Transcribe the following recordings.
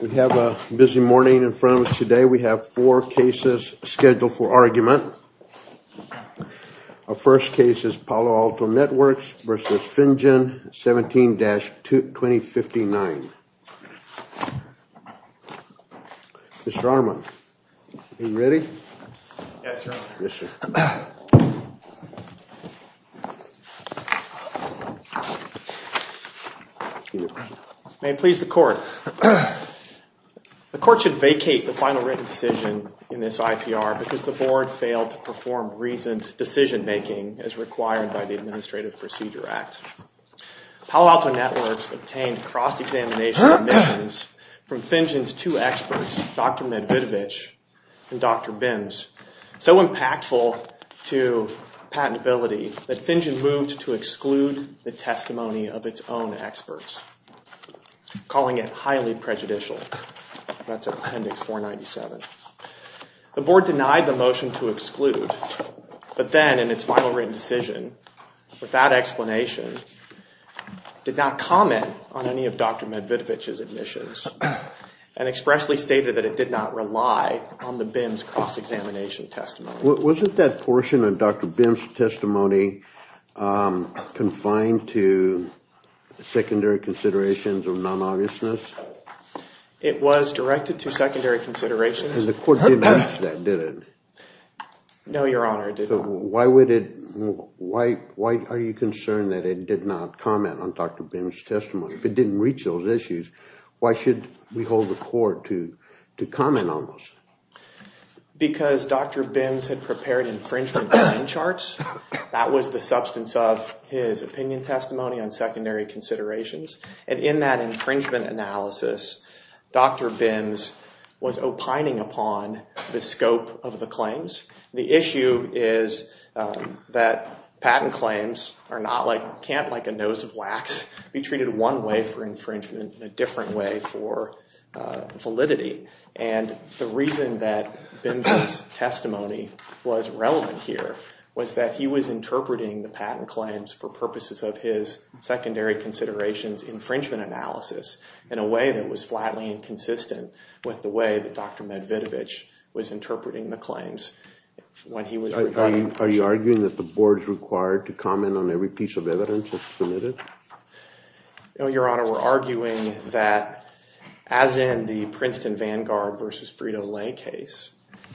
We have a busy morning in front of us today. We have four cases scheduled for argument. Our first case is Palo Alto Networks v. Finjan, 17-2059. May it please the Court, the Court should vacate the final written decision in this IPR because the Board failed to perform reasoned decision-making as required by the Administrative Procedure Act. Palo Alto Networks obtained cross-examination submissions from Finjan's two experts, Dr. Medvidovich and Dr. Binns, so impactful to patentability that Finjan moved to exclude the testimony of its own experts, calling it highly prejudicial. That's Appendix 497. The Board denied the motion to exclude, but then in its final written decision, without explanation, did not comment on any of Dr. Medvidovich's admissions and expressly stated that it did not rely on the Binns' cross-examination testimony. Wasn't that portion of Dr. Binns' testimony confined to secondary considerations of non-obviousness? It was directed to secondary considerations. And the Court didn't reach that, did it? No, Your Honor, it didn't. Why are you concerned that it did not comment on Dr. Binns' testimony? If it didn't reach those issues, why should we hold the Court to comment on those? Because Dr. Binns had prepared infringement time charts. That was the substance of his opinion testimony on secondary considerations. And in that infringement analysis, Dr. Binns was opining upon the scope of the claims. The issue is that patent claims can't, like a nose of wax, be treated one way for infringement and a different way for validity. And the reason that Binns' testimony was relevant here was that he was interpreting the patent claims for purposes of his secondary considerations infringement analysis in a way that was flatly inconsistent with the way that Dr. Medvidovich was interpreting the claims when he was reviewing them. Are you arguing that the Board is required to comment on every piece of evidence that's submitted? No, Your Honor, we're arguing that, as in the Princeton v. Vanguard v. Frito-Lay case,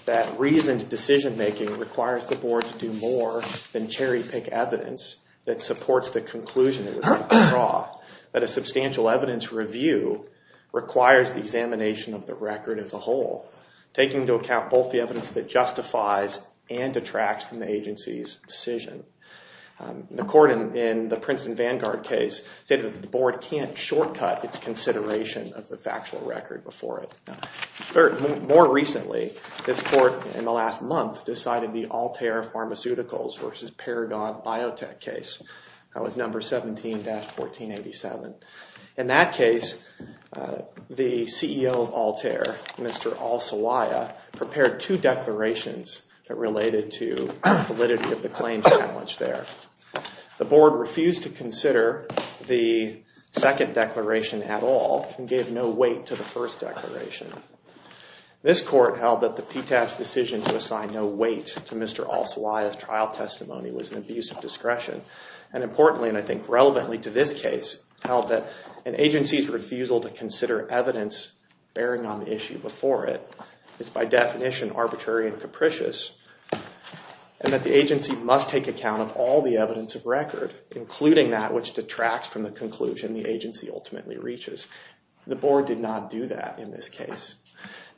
that reasoned decision-making requires the Board to do more than cherry-pick evidence that supports the conclusion it was meant to draw. That a substantial evidence review requires the examination of the record as a whole, taking into account both the evidence that justifies and detracts from the agency's decision. The Court in the Princeton v. Vanguard case said that the Board can't shortcut its consideration of the factual record before it. More recently, this Court in the last month decided the Altair Pharmaceuticals v. Paragon Biotech case. That was number 17-1487. In that case, the CEO of Altair, Mr. Alsawiyah, prepared two declarations that related to validity of the claim challenge there. The Board refused to consider the second declaration at all and gave no weight to the first declaration. This Court held that the PTAS decision to assign no weight to Mr. Alsawiyah's trial was self-discretion. Importantly, and I think relevantly to this case, held that an agency's refusal to consider evidence bearing on the issue before it is, by definition, arbitrary and capricious, and that the agency must take account of all the evidence of record, including that which detracts from the conclusion the agency ultimately reaches. The Board did not do that in this case.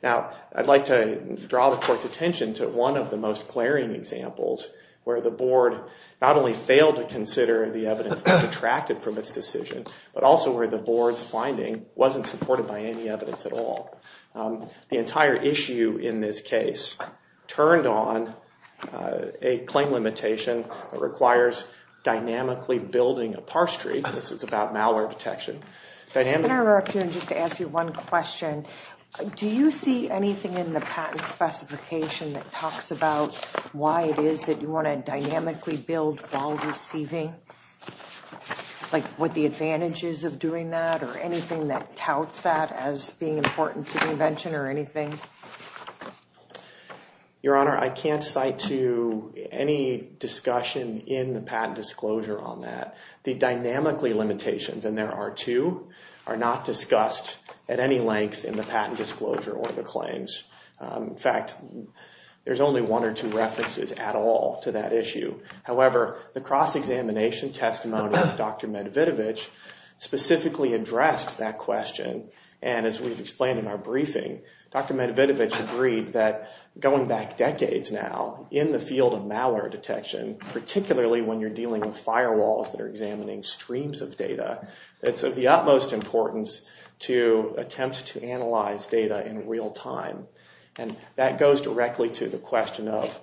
Now, I'd like to draw the Court's attention to one of the most glaring examples where the Board not only failed to consider the evidence that detracted from its decision, but also where the Board's finding wasn't supported by any evidence at all. The entire issue in this case turned on a claim limitation that requires dynamically building a parse tree. This is about malware detection. I'm going to interrupt you just to ask you one question. Do you see anything in the patent specification that talks about why it is that you want to dynamically build while receiving? Like what the advantages of doing that or anything that touts that as being important to the invention or anything? Your Honor, I can't cite to any discussion in the patent disclosure on that. The dynamically limitations, and there are two, are not discussed at any length in the patent disclosure or the claims. In fact, there's only one or two references at all to that issue. However, the cross-examination testimony of Dr. Medvedevich specifically addressed that question and as we've explained in our briefing, Dr. Medvedevich agreed that going back decades now in the field of malware detection, particularly when you're dealing with firewalls that are examining streams of data, it's of the utmost importance to attempt to analyze data in real time. And that goes directly to the question of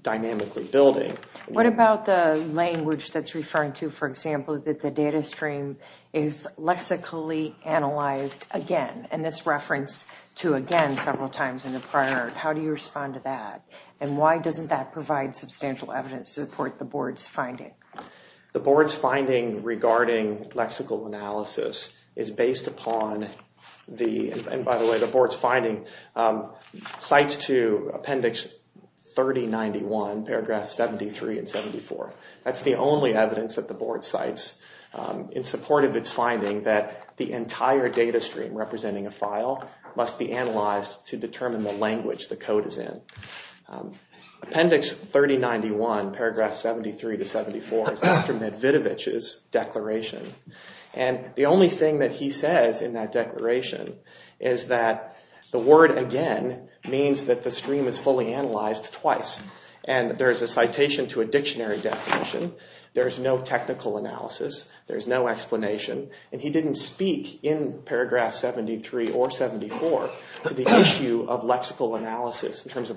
dynamically building. What about the language that's referring to, for example, that the data stream is lexically analyzed again? And this reference to again several times in the prior, how do you respond to that? And why doesn't that provide substantial evidence to support the board's finding? The board's finding regarding lexical analysis is based upon the, and by the way, the board's finding, cites to appendix 3091, paragraph 73 and 74. That's the only evidence that the board cites in support of its finding that the entire data stream representing a file must be analyzed to determine the language the code is in. Appendix 3091, paragraph 73 to 74 is Dr. Medvedevich's declaration and the only thing that he says in that declaration is that the word again means that the stream is fully analyzed twice. And there's a citation to a dictionary definition. There's no technical analysis. There's no explanation. And he didn't speak in paragraph 73 or 74 to the issue of lexical analysis in terms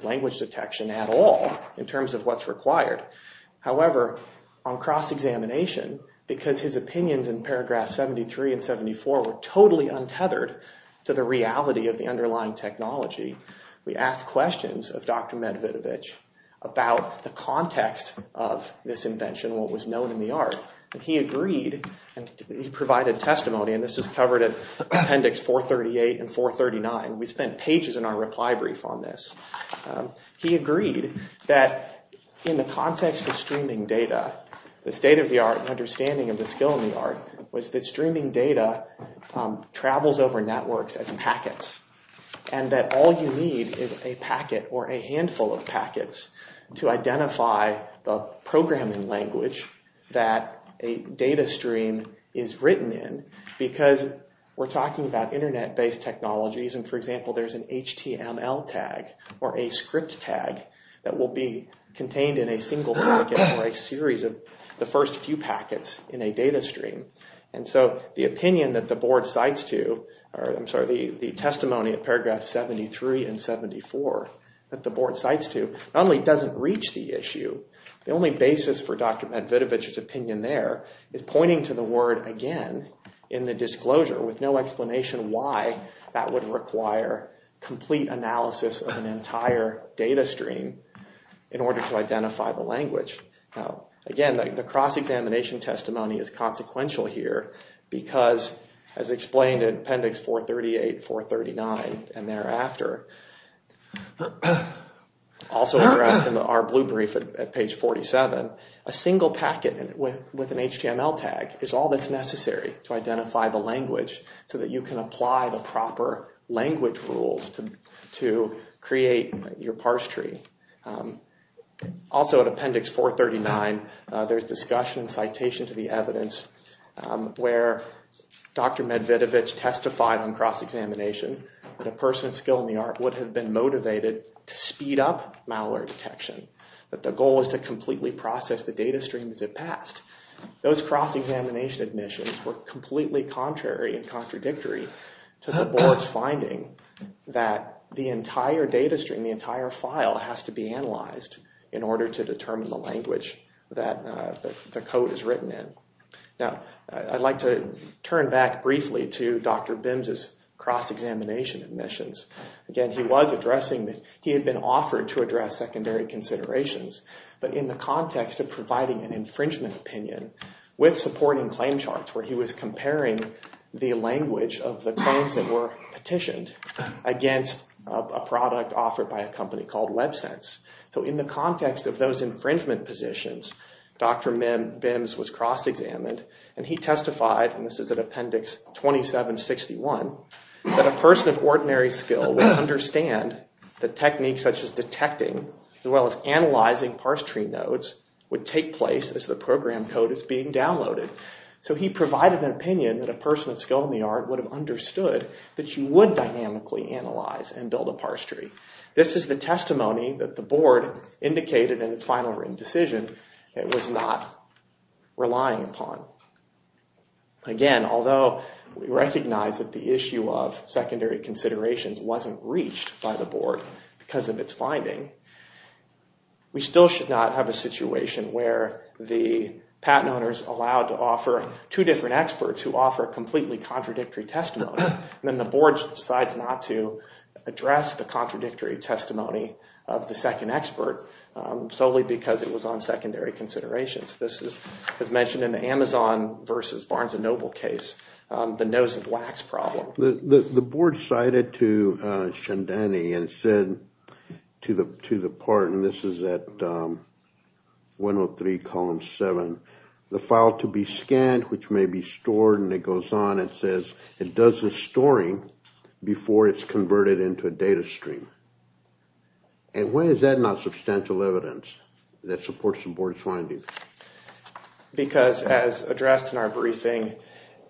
However, on cross-examination, because his opinions in paragraph 73 and 74 were totally untethered to the reality of the underlying technology, we asked questions of Dr. Medvedevich about the context of this invention, what was known in the art. And he agreed, and he provided testimony, and this is covered in appendix 438 and 439. We spent pages in our reply brief on this. He agreed that in the context of streaming data, the state of the art and understanding of the skill in the art was that streaming data travels over networks as packets and that all you need is a packet or a handful of packets to identify the programming language that a data stream is written in because we're talking about internet-based technologies and for example, there's an HTML tag or a script tag that will be contained in a single packet or a series of the first few packets in a data stream. And so the opinion that the board cites to, or I'm sorry, the testimony of paragraph 73 and 74 that the board cites to not only doesn't reach the issue, the only basis for Dr. Medvedevich's opinion there is pointing to the word again in the disclosure with no explanation why that would require complete analysis of an entire data stream in order to identify the language. Now again, the cross-examination testimony is consequential here because as explained in appendix 438, 439 and thereafter, also addressed in our blue brief at page 47, a single packet with an HTML tag is all that's necessary to identify the language so that you can apply the proper language rules to create your parse tree. Also at appendix 439, there's discussion and citation to the evidence where Dr. Medvedevich testified on cross-examination that a person with skill in the art would have been motivated to speed up malware detection, that the goal is to completely process the data stream as it passed. Those cross-examination admissions were completely contrary and contradictory to the board's finding that the entire data stream, the entire file has to be analyzed in order to determine the language that the code is written in. Now I'd like to turn back briefly to Dr. Bims's cross-examination admissions. Again, he was addressing that he had been offered to address secondary considerations, but in the context of providing an infringement opinion with supporting claim charts where he was comparing the language of the claims that were petitioned against a product offered by a company called WebSense. So in the context of those infringement positions, Dr. Bims was cross-examined and he testified and this is at appendix 2761, that a person of ordinary skill would understand the techniques such as detecting as well as analyzing parse tree nodes would take place as the program code is being downloaded. So he provided an opinion that a person of skill in the art would have understood that you would dynamically analyze and build a parse tree. This is the testimony that the board indicated in its final written decision that it was not relying upon. Again, although we recognize that the issue of secondary considerations wasn't reached by the board because of its finding, we still should not have a situation where the patent owners allowed to offer two different experts who offer completely contradictory testimony and then the board decides not to address the contradictory testimony of the second expert solely because it was on secondary considerations. This is as mentioned in the Amazon versus Barnes & Noble case, the nose of wax problem. The board cited to Chandani and said to the part, and this is at 103 column 7, the file to be scanned which may be stored and it goes on and says it does the storing before it's converted into a data stream. And why is that not substantial evidence that supports the board's finding? Because as addressed in our briefing,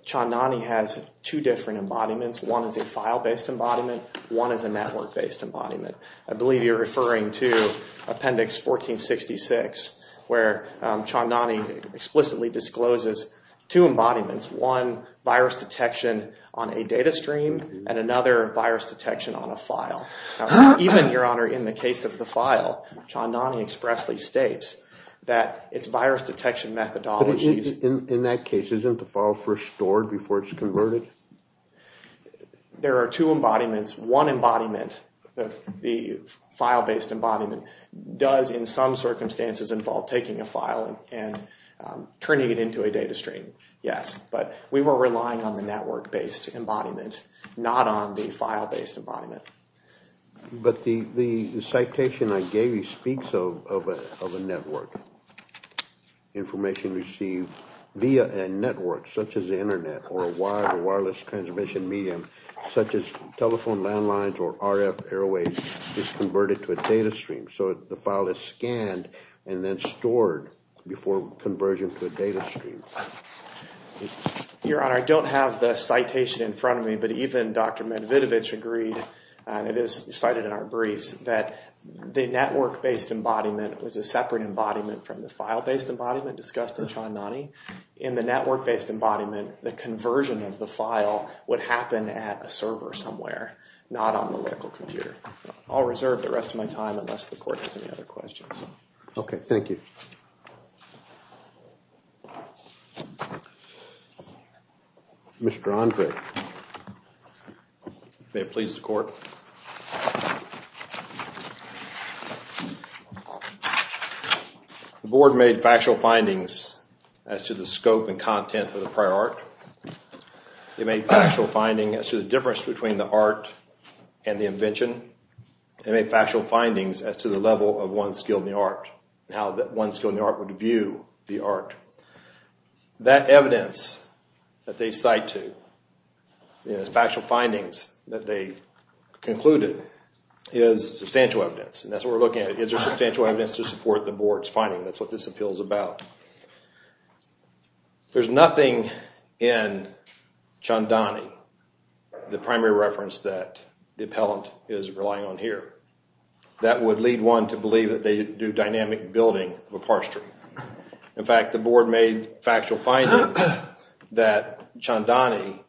Chandani has two different embodiments. One is a file-based embodiment, one is a network-based embodiment. I believe you're referring to Appendix 1466 where Chandani explicitly discloses two embodiments, one virus detection on a data stream and another virus detection on a file. Even, Your Honor, in the case of the file, Chandani expressly states that its virus detection methodologies... But in that case, isn't the file first stored before it's converted? There are two embodiments. One embodiment, the file-based embodiment, does in some circumstances involve taking a file and turning it into a data stream, yes, but we were relying on the network-based embodiment, not on the file-based embodiment. But the citation I gave you speaks of a network. Information received via a network such as the internet or a wire or wireless transmission medium such as telephone landlines or RF airways is converted to a data stream. So the file is scanned and then stored before conversion to a data stream. Your Honor, I don't have the citation in front of me, but even Dr. Medvedevich agreed, and it is cited in our briefs, that the network-based embodiment was a separate embodiment from the file-based embodiment discussed in Chandani. In the network-based embodiment, the conversion of the file would happen at a server somewhere, not on the local computer. I'll reserve the rest of my time unless the court has any other questions. Okay, thank you. Mr. Andre. May it please the court. The board made factual findings as to the scope and content of the prior art. They made factual findings as to the difference between the art and the invention. They made factual findings as to the level of one's skill in the art and how one's skill in the art would view the art. That evidence that they cite to, the factual findings that they concluded, is substantial evidence. And that's what we're looking at. Is there substantial evidence to support the board's finding? That's what this appeal is about. There's nothing in Chandani, the primary reference that the appellant is relying on here, that would lead one to believe that they didn't do dynamic building of a parse tree. In fact, the board made factual findings that Chandani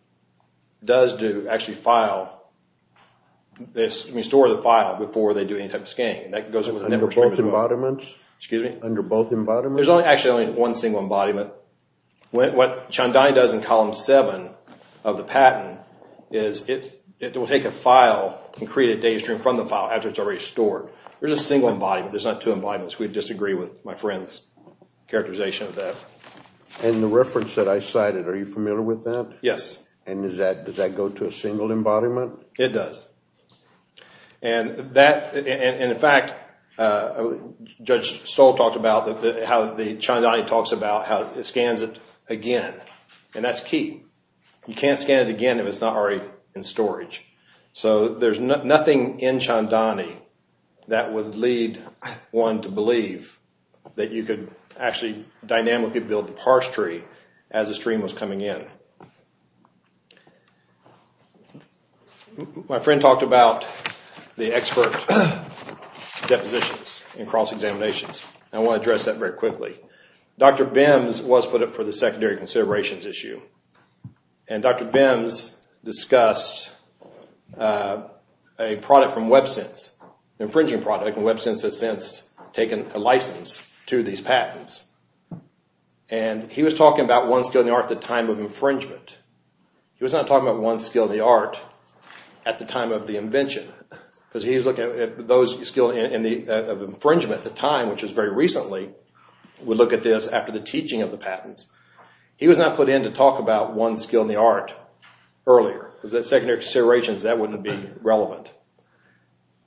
does do, actually file, restore the file before they do any type of scanning. Under both embodiments? Excuse me? Under both embodiments? There's actually only one single embodiment. What Chandani does in column 7 of the patent is it will take a file and create a data stream from the file after it's already stored. There's a single embodiment. There's not two embodiments. We disagree with my friend's characterization of that. And the reference that I cited, are you familiar with that? Yes. And does that go to a single embodiment? It does. And in fact, Judge Stoll talked about how Chandani talks about how it scans it again. And that's key. You can't scan it again if it's not already in storage. So there's nothing in Chandani that would lead one to believe that you could actually dynamically build the parse tree as a stream was coming in. My friend talked about the expert depositions and cross-examinations. I want to address that very quickly. Dr. Bims was put up for the secondary considerations issue. And Dr. Bims discussed a product from WebSense, an infringing product. And WebSense has since taken a license to these patents. And he was talking about one skill in the art at the time of infringement. He was not talking about one skill in the art at the time of the invention. Because he was looking at those skills of infringement at the time, which was very recently. We look at this after the teaching of the patents. He was not put in to talk about one skill in the art earlier. Because the secondary considerations, that wouldn't be relevant.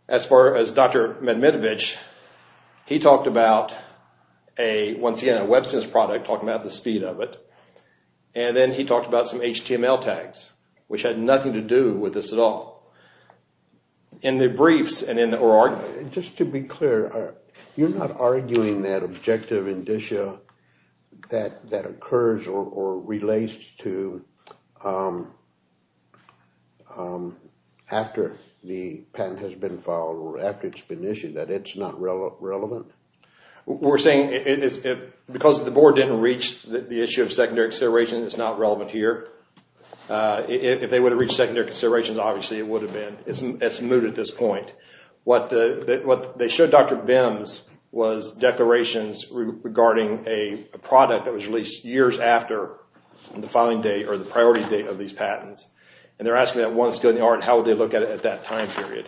As far as Dr. Medmedevich, he talked about, once again, a WebSense product, talking about the speed of it. And then he talked about some HTML tags, which had nothing to do with this at all. Just to be clear, you're not arguing that objective indicia that occurs or relates to after the patent has been filed, or after it's been issued, that it's not relevant? We're saying because the board didn't reach the issue of secondary considerations, it's not relevant here. If they would have reached secondary considerations, obviously it would have been. It's moot at this point. What they showed Dr. Bims was declarations regarding a product that was released years after the filing date or the priority date of these patents. And they're asking that one skill in the art, how would they look at it at that time period?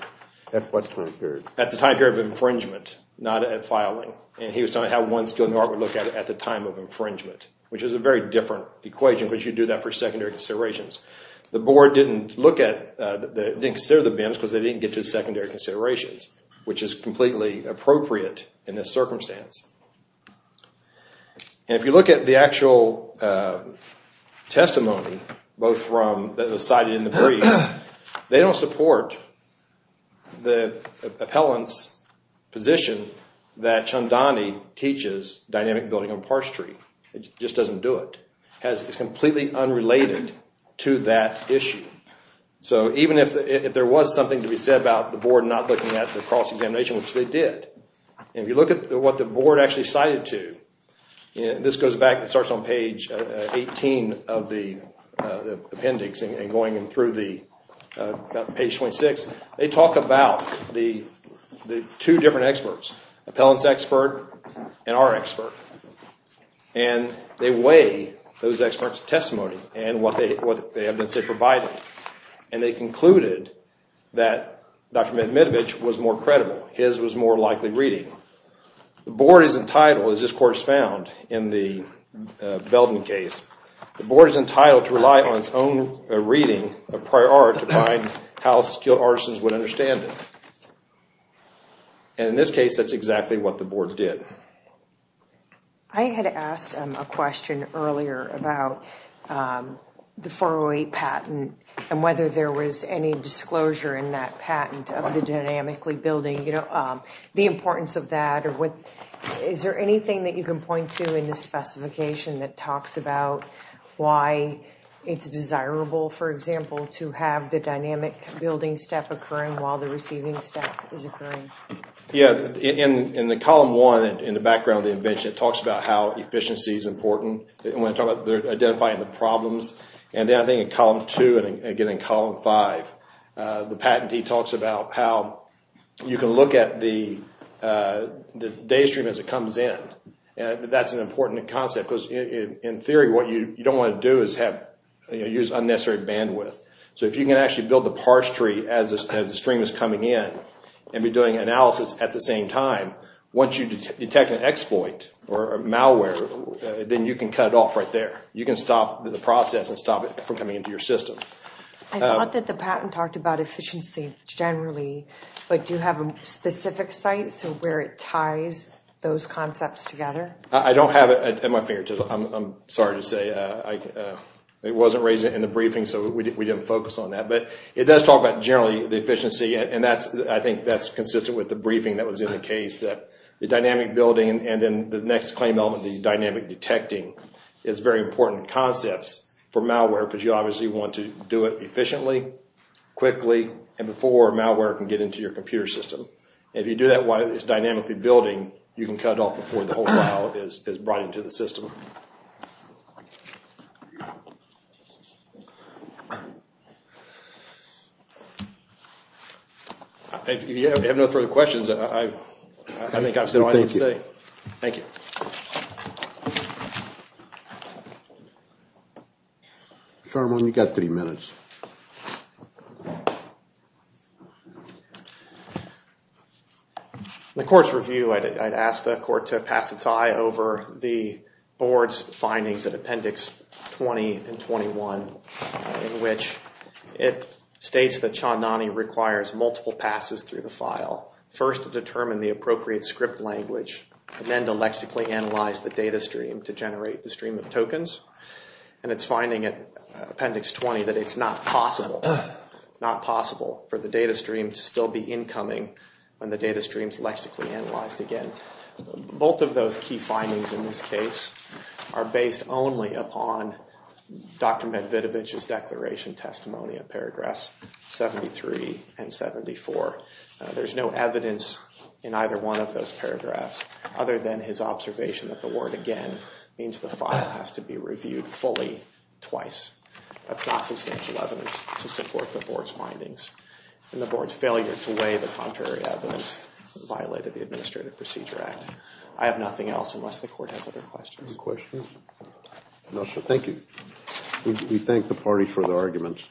At what time period? At the time period of infringement, not at filing. And he was talking about how one skill in the art would look at it at the time of infringement. Which is a very different equation, because you do that for secondary considerations. The board didn't consider the Bims because they didn't get to the secondary considerations, which is completely appropriate in this circumstance. And if you look at the actual testimony, both from, that was cited in the briefs, they don't support the appellant's position that Chandani teaches dynamic building on Park Street. It just doesn't do it. It's completely unrelated to that issue. So even if there was something to be said about the board not looking at the cross-examination, which they did, and if you look at what the board actually cited to, this goes back, it starts on page 18 of the appendix, and going in through page 26, they talk about the two different experts, appellant's expert and our expert. And they weigh those experts' testimony and what they have been provided. And they concluded that Dr. Medvedevich was more credible, his was more likely reading. The board is entitled, as this court has found in the Belden case, the board is entitled to rely on its own reading of prior art to find how skilled artisans would understand it. And in this case, that's exactly what the board did. I had asked a question earlier about the 408 patent and whether there was any disclosure in that patent of the dynamically building, the importance of that, is there anything that you can point to in the specification that talks about why it's desirable, for example, to have the dynamic building step occurring while the receiving step is occurring? Yeah, in the column one, in the background of the invention, it talks about how efficiency is important. They're identifying the problems. And then I think in column two, and again in column five, the patentee talks about how you can look at the day stream as it comes in. That's an important concept, because in theory, what you don't want to do is use unnecessary bandwidth. So if you can actually build the parse tree as the stream is coming in and be doing analysis at the same time, once you detect an exploit or malware, then you can cut it off right there. You can stop the process and stop it from coming into your system. I thought that the patent talked about efficiency generally, but do you have a specific site where it ties those concepts together? I don't have it at my fingertips. I'm sorry to say it wasn't raised in the briefing, so we didn't focus on that. But it does talk about generally the efficiency, and I think that's consistent with the briefing that was in the case. The dynamic building and then the next claim element, the dynamic detecting, is very important concepts for malware because you obviously want to do it efficiently, quickly, and before malware can get into your computer system. If you do that while it's dynamically building, you can cut off before the whole file is brought into the system. If you have no further questions, I think I've said all I need to say. Thank you. Sharman, you've got three minutes. In the court's review, I'd ask the court to pass its eye over the board's findings at Appendix 20 and 21 in which it states that Chonani requires multiple passes through the file, first to determine the appropriate script language, and then to lexically analyze the data stream to generate the stream of tokens. It's finding at Appendix 20 that it's not possible for the data stream to still be incoming when the data stream is lexically analyzed again. Both of those key findings in this case are based only upon Dr. Medvedevich's declaration testimony of paragraphs 73 and 74. There's no evidence in either one of those paragraphs other than his observation that the word again means the file has to be reviewed fully twice. That's not substantial evidence to support the board's findings and the board's failure to weigh the contrary evidence that violated the Administrative Procedure Act. I have nothing else unless the court has other questions. Any questions? No, sir. Thank you. We thank the party for the arguments.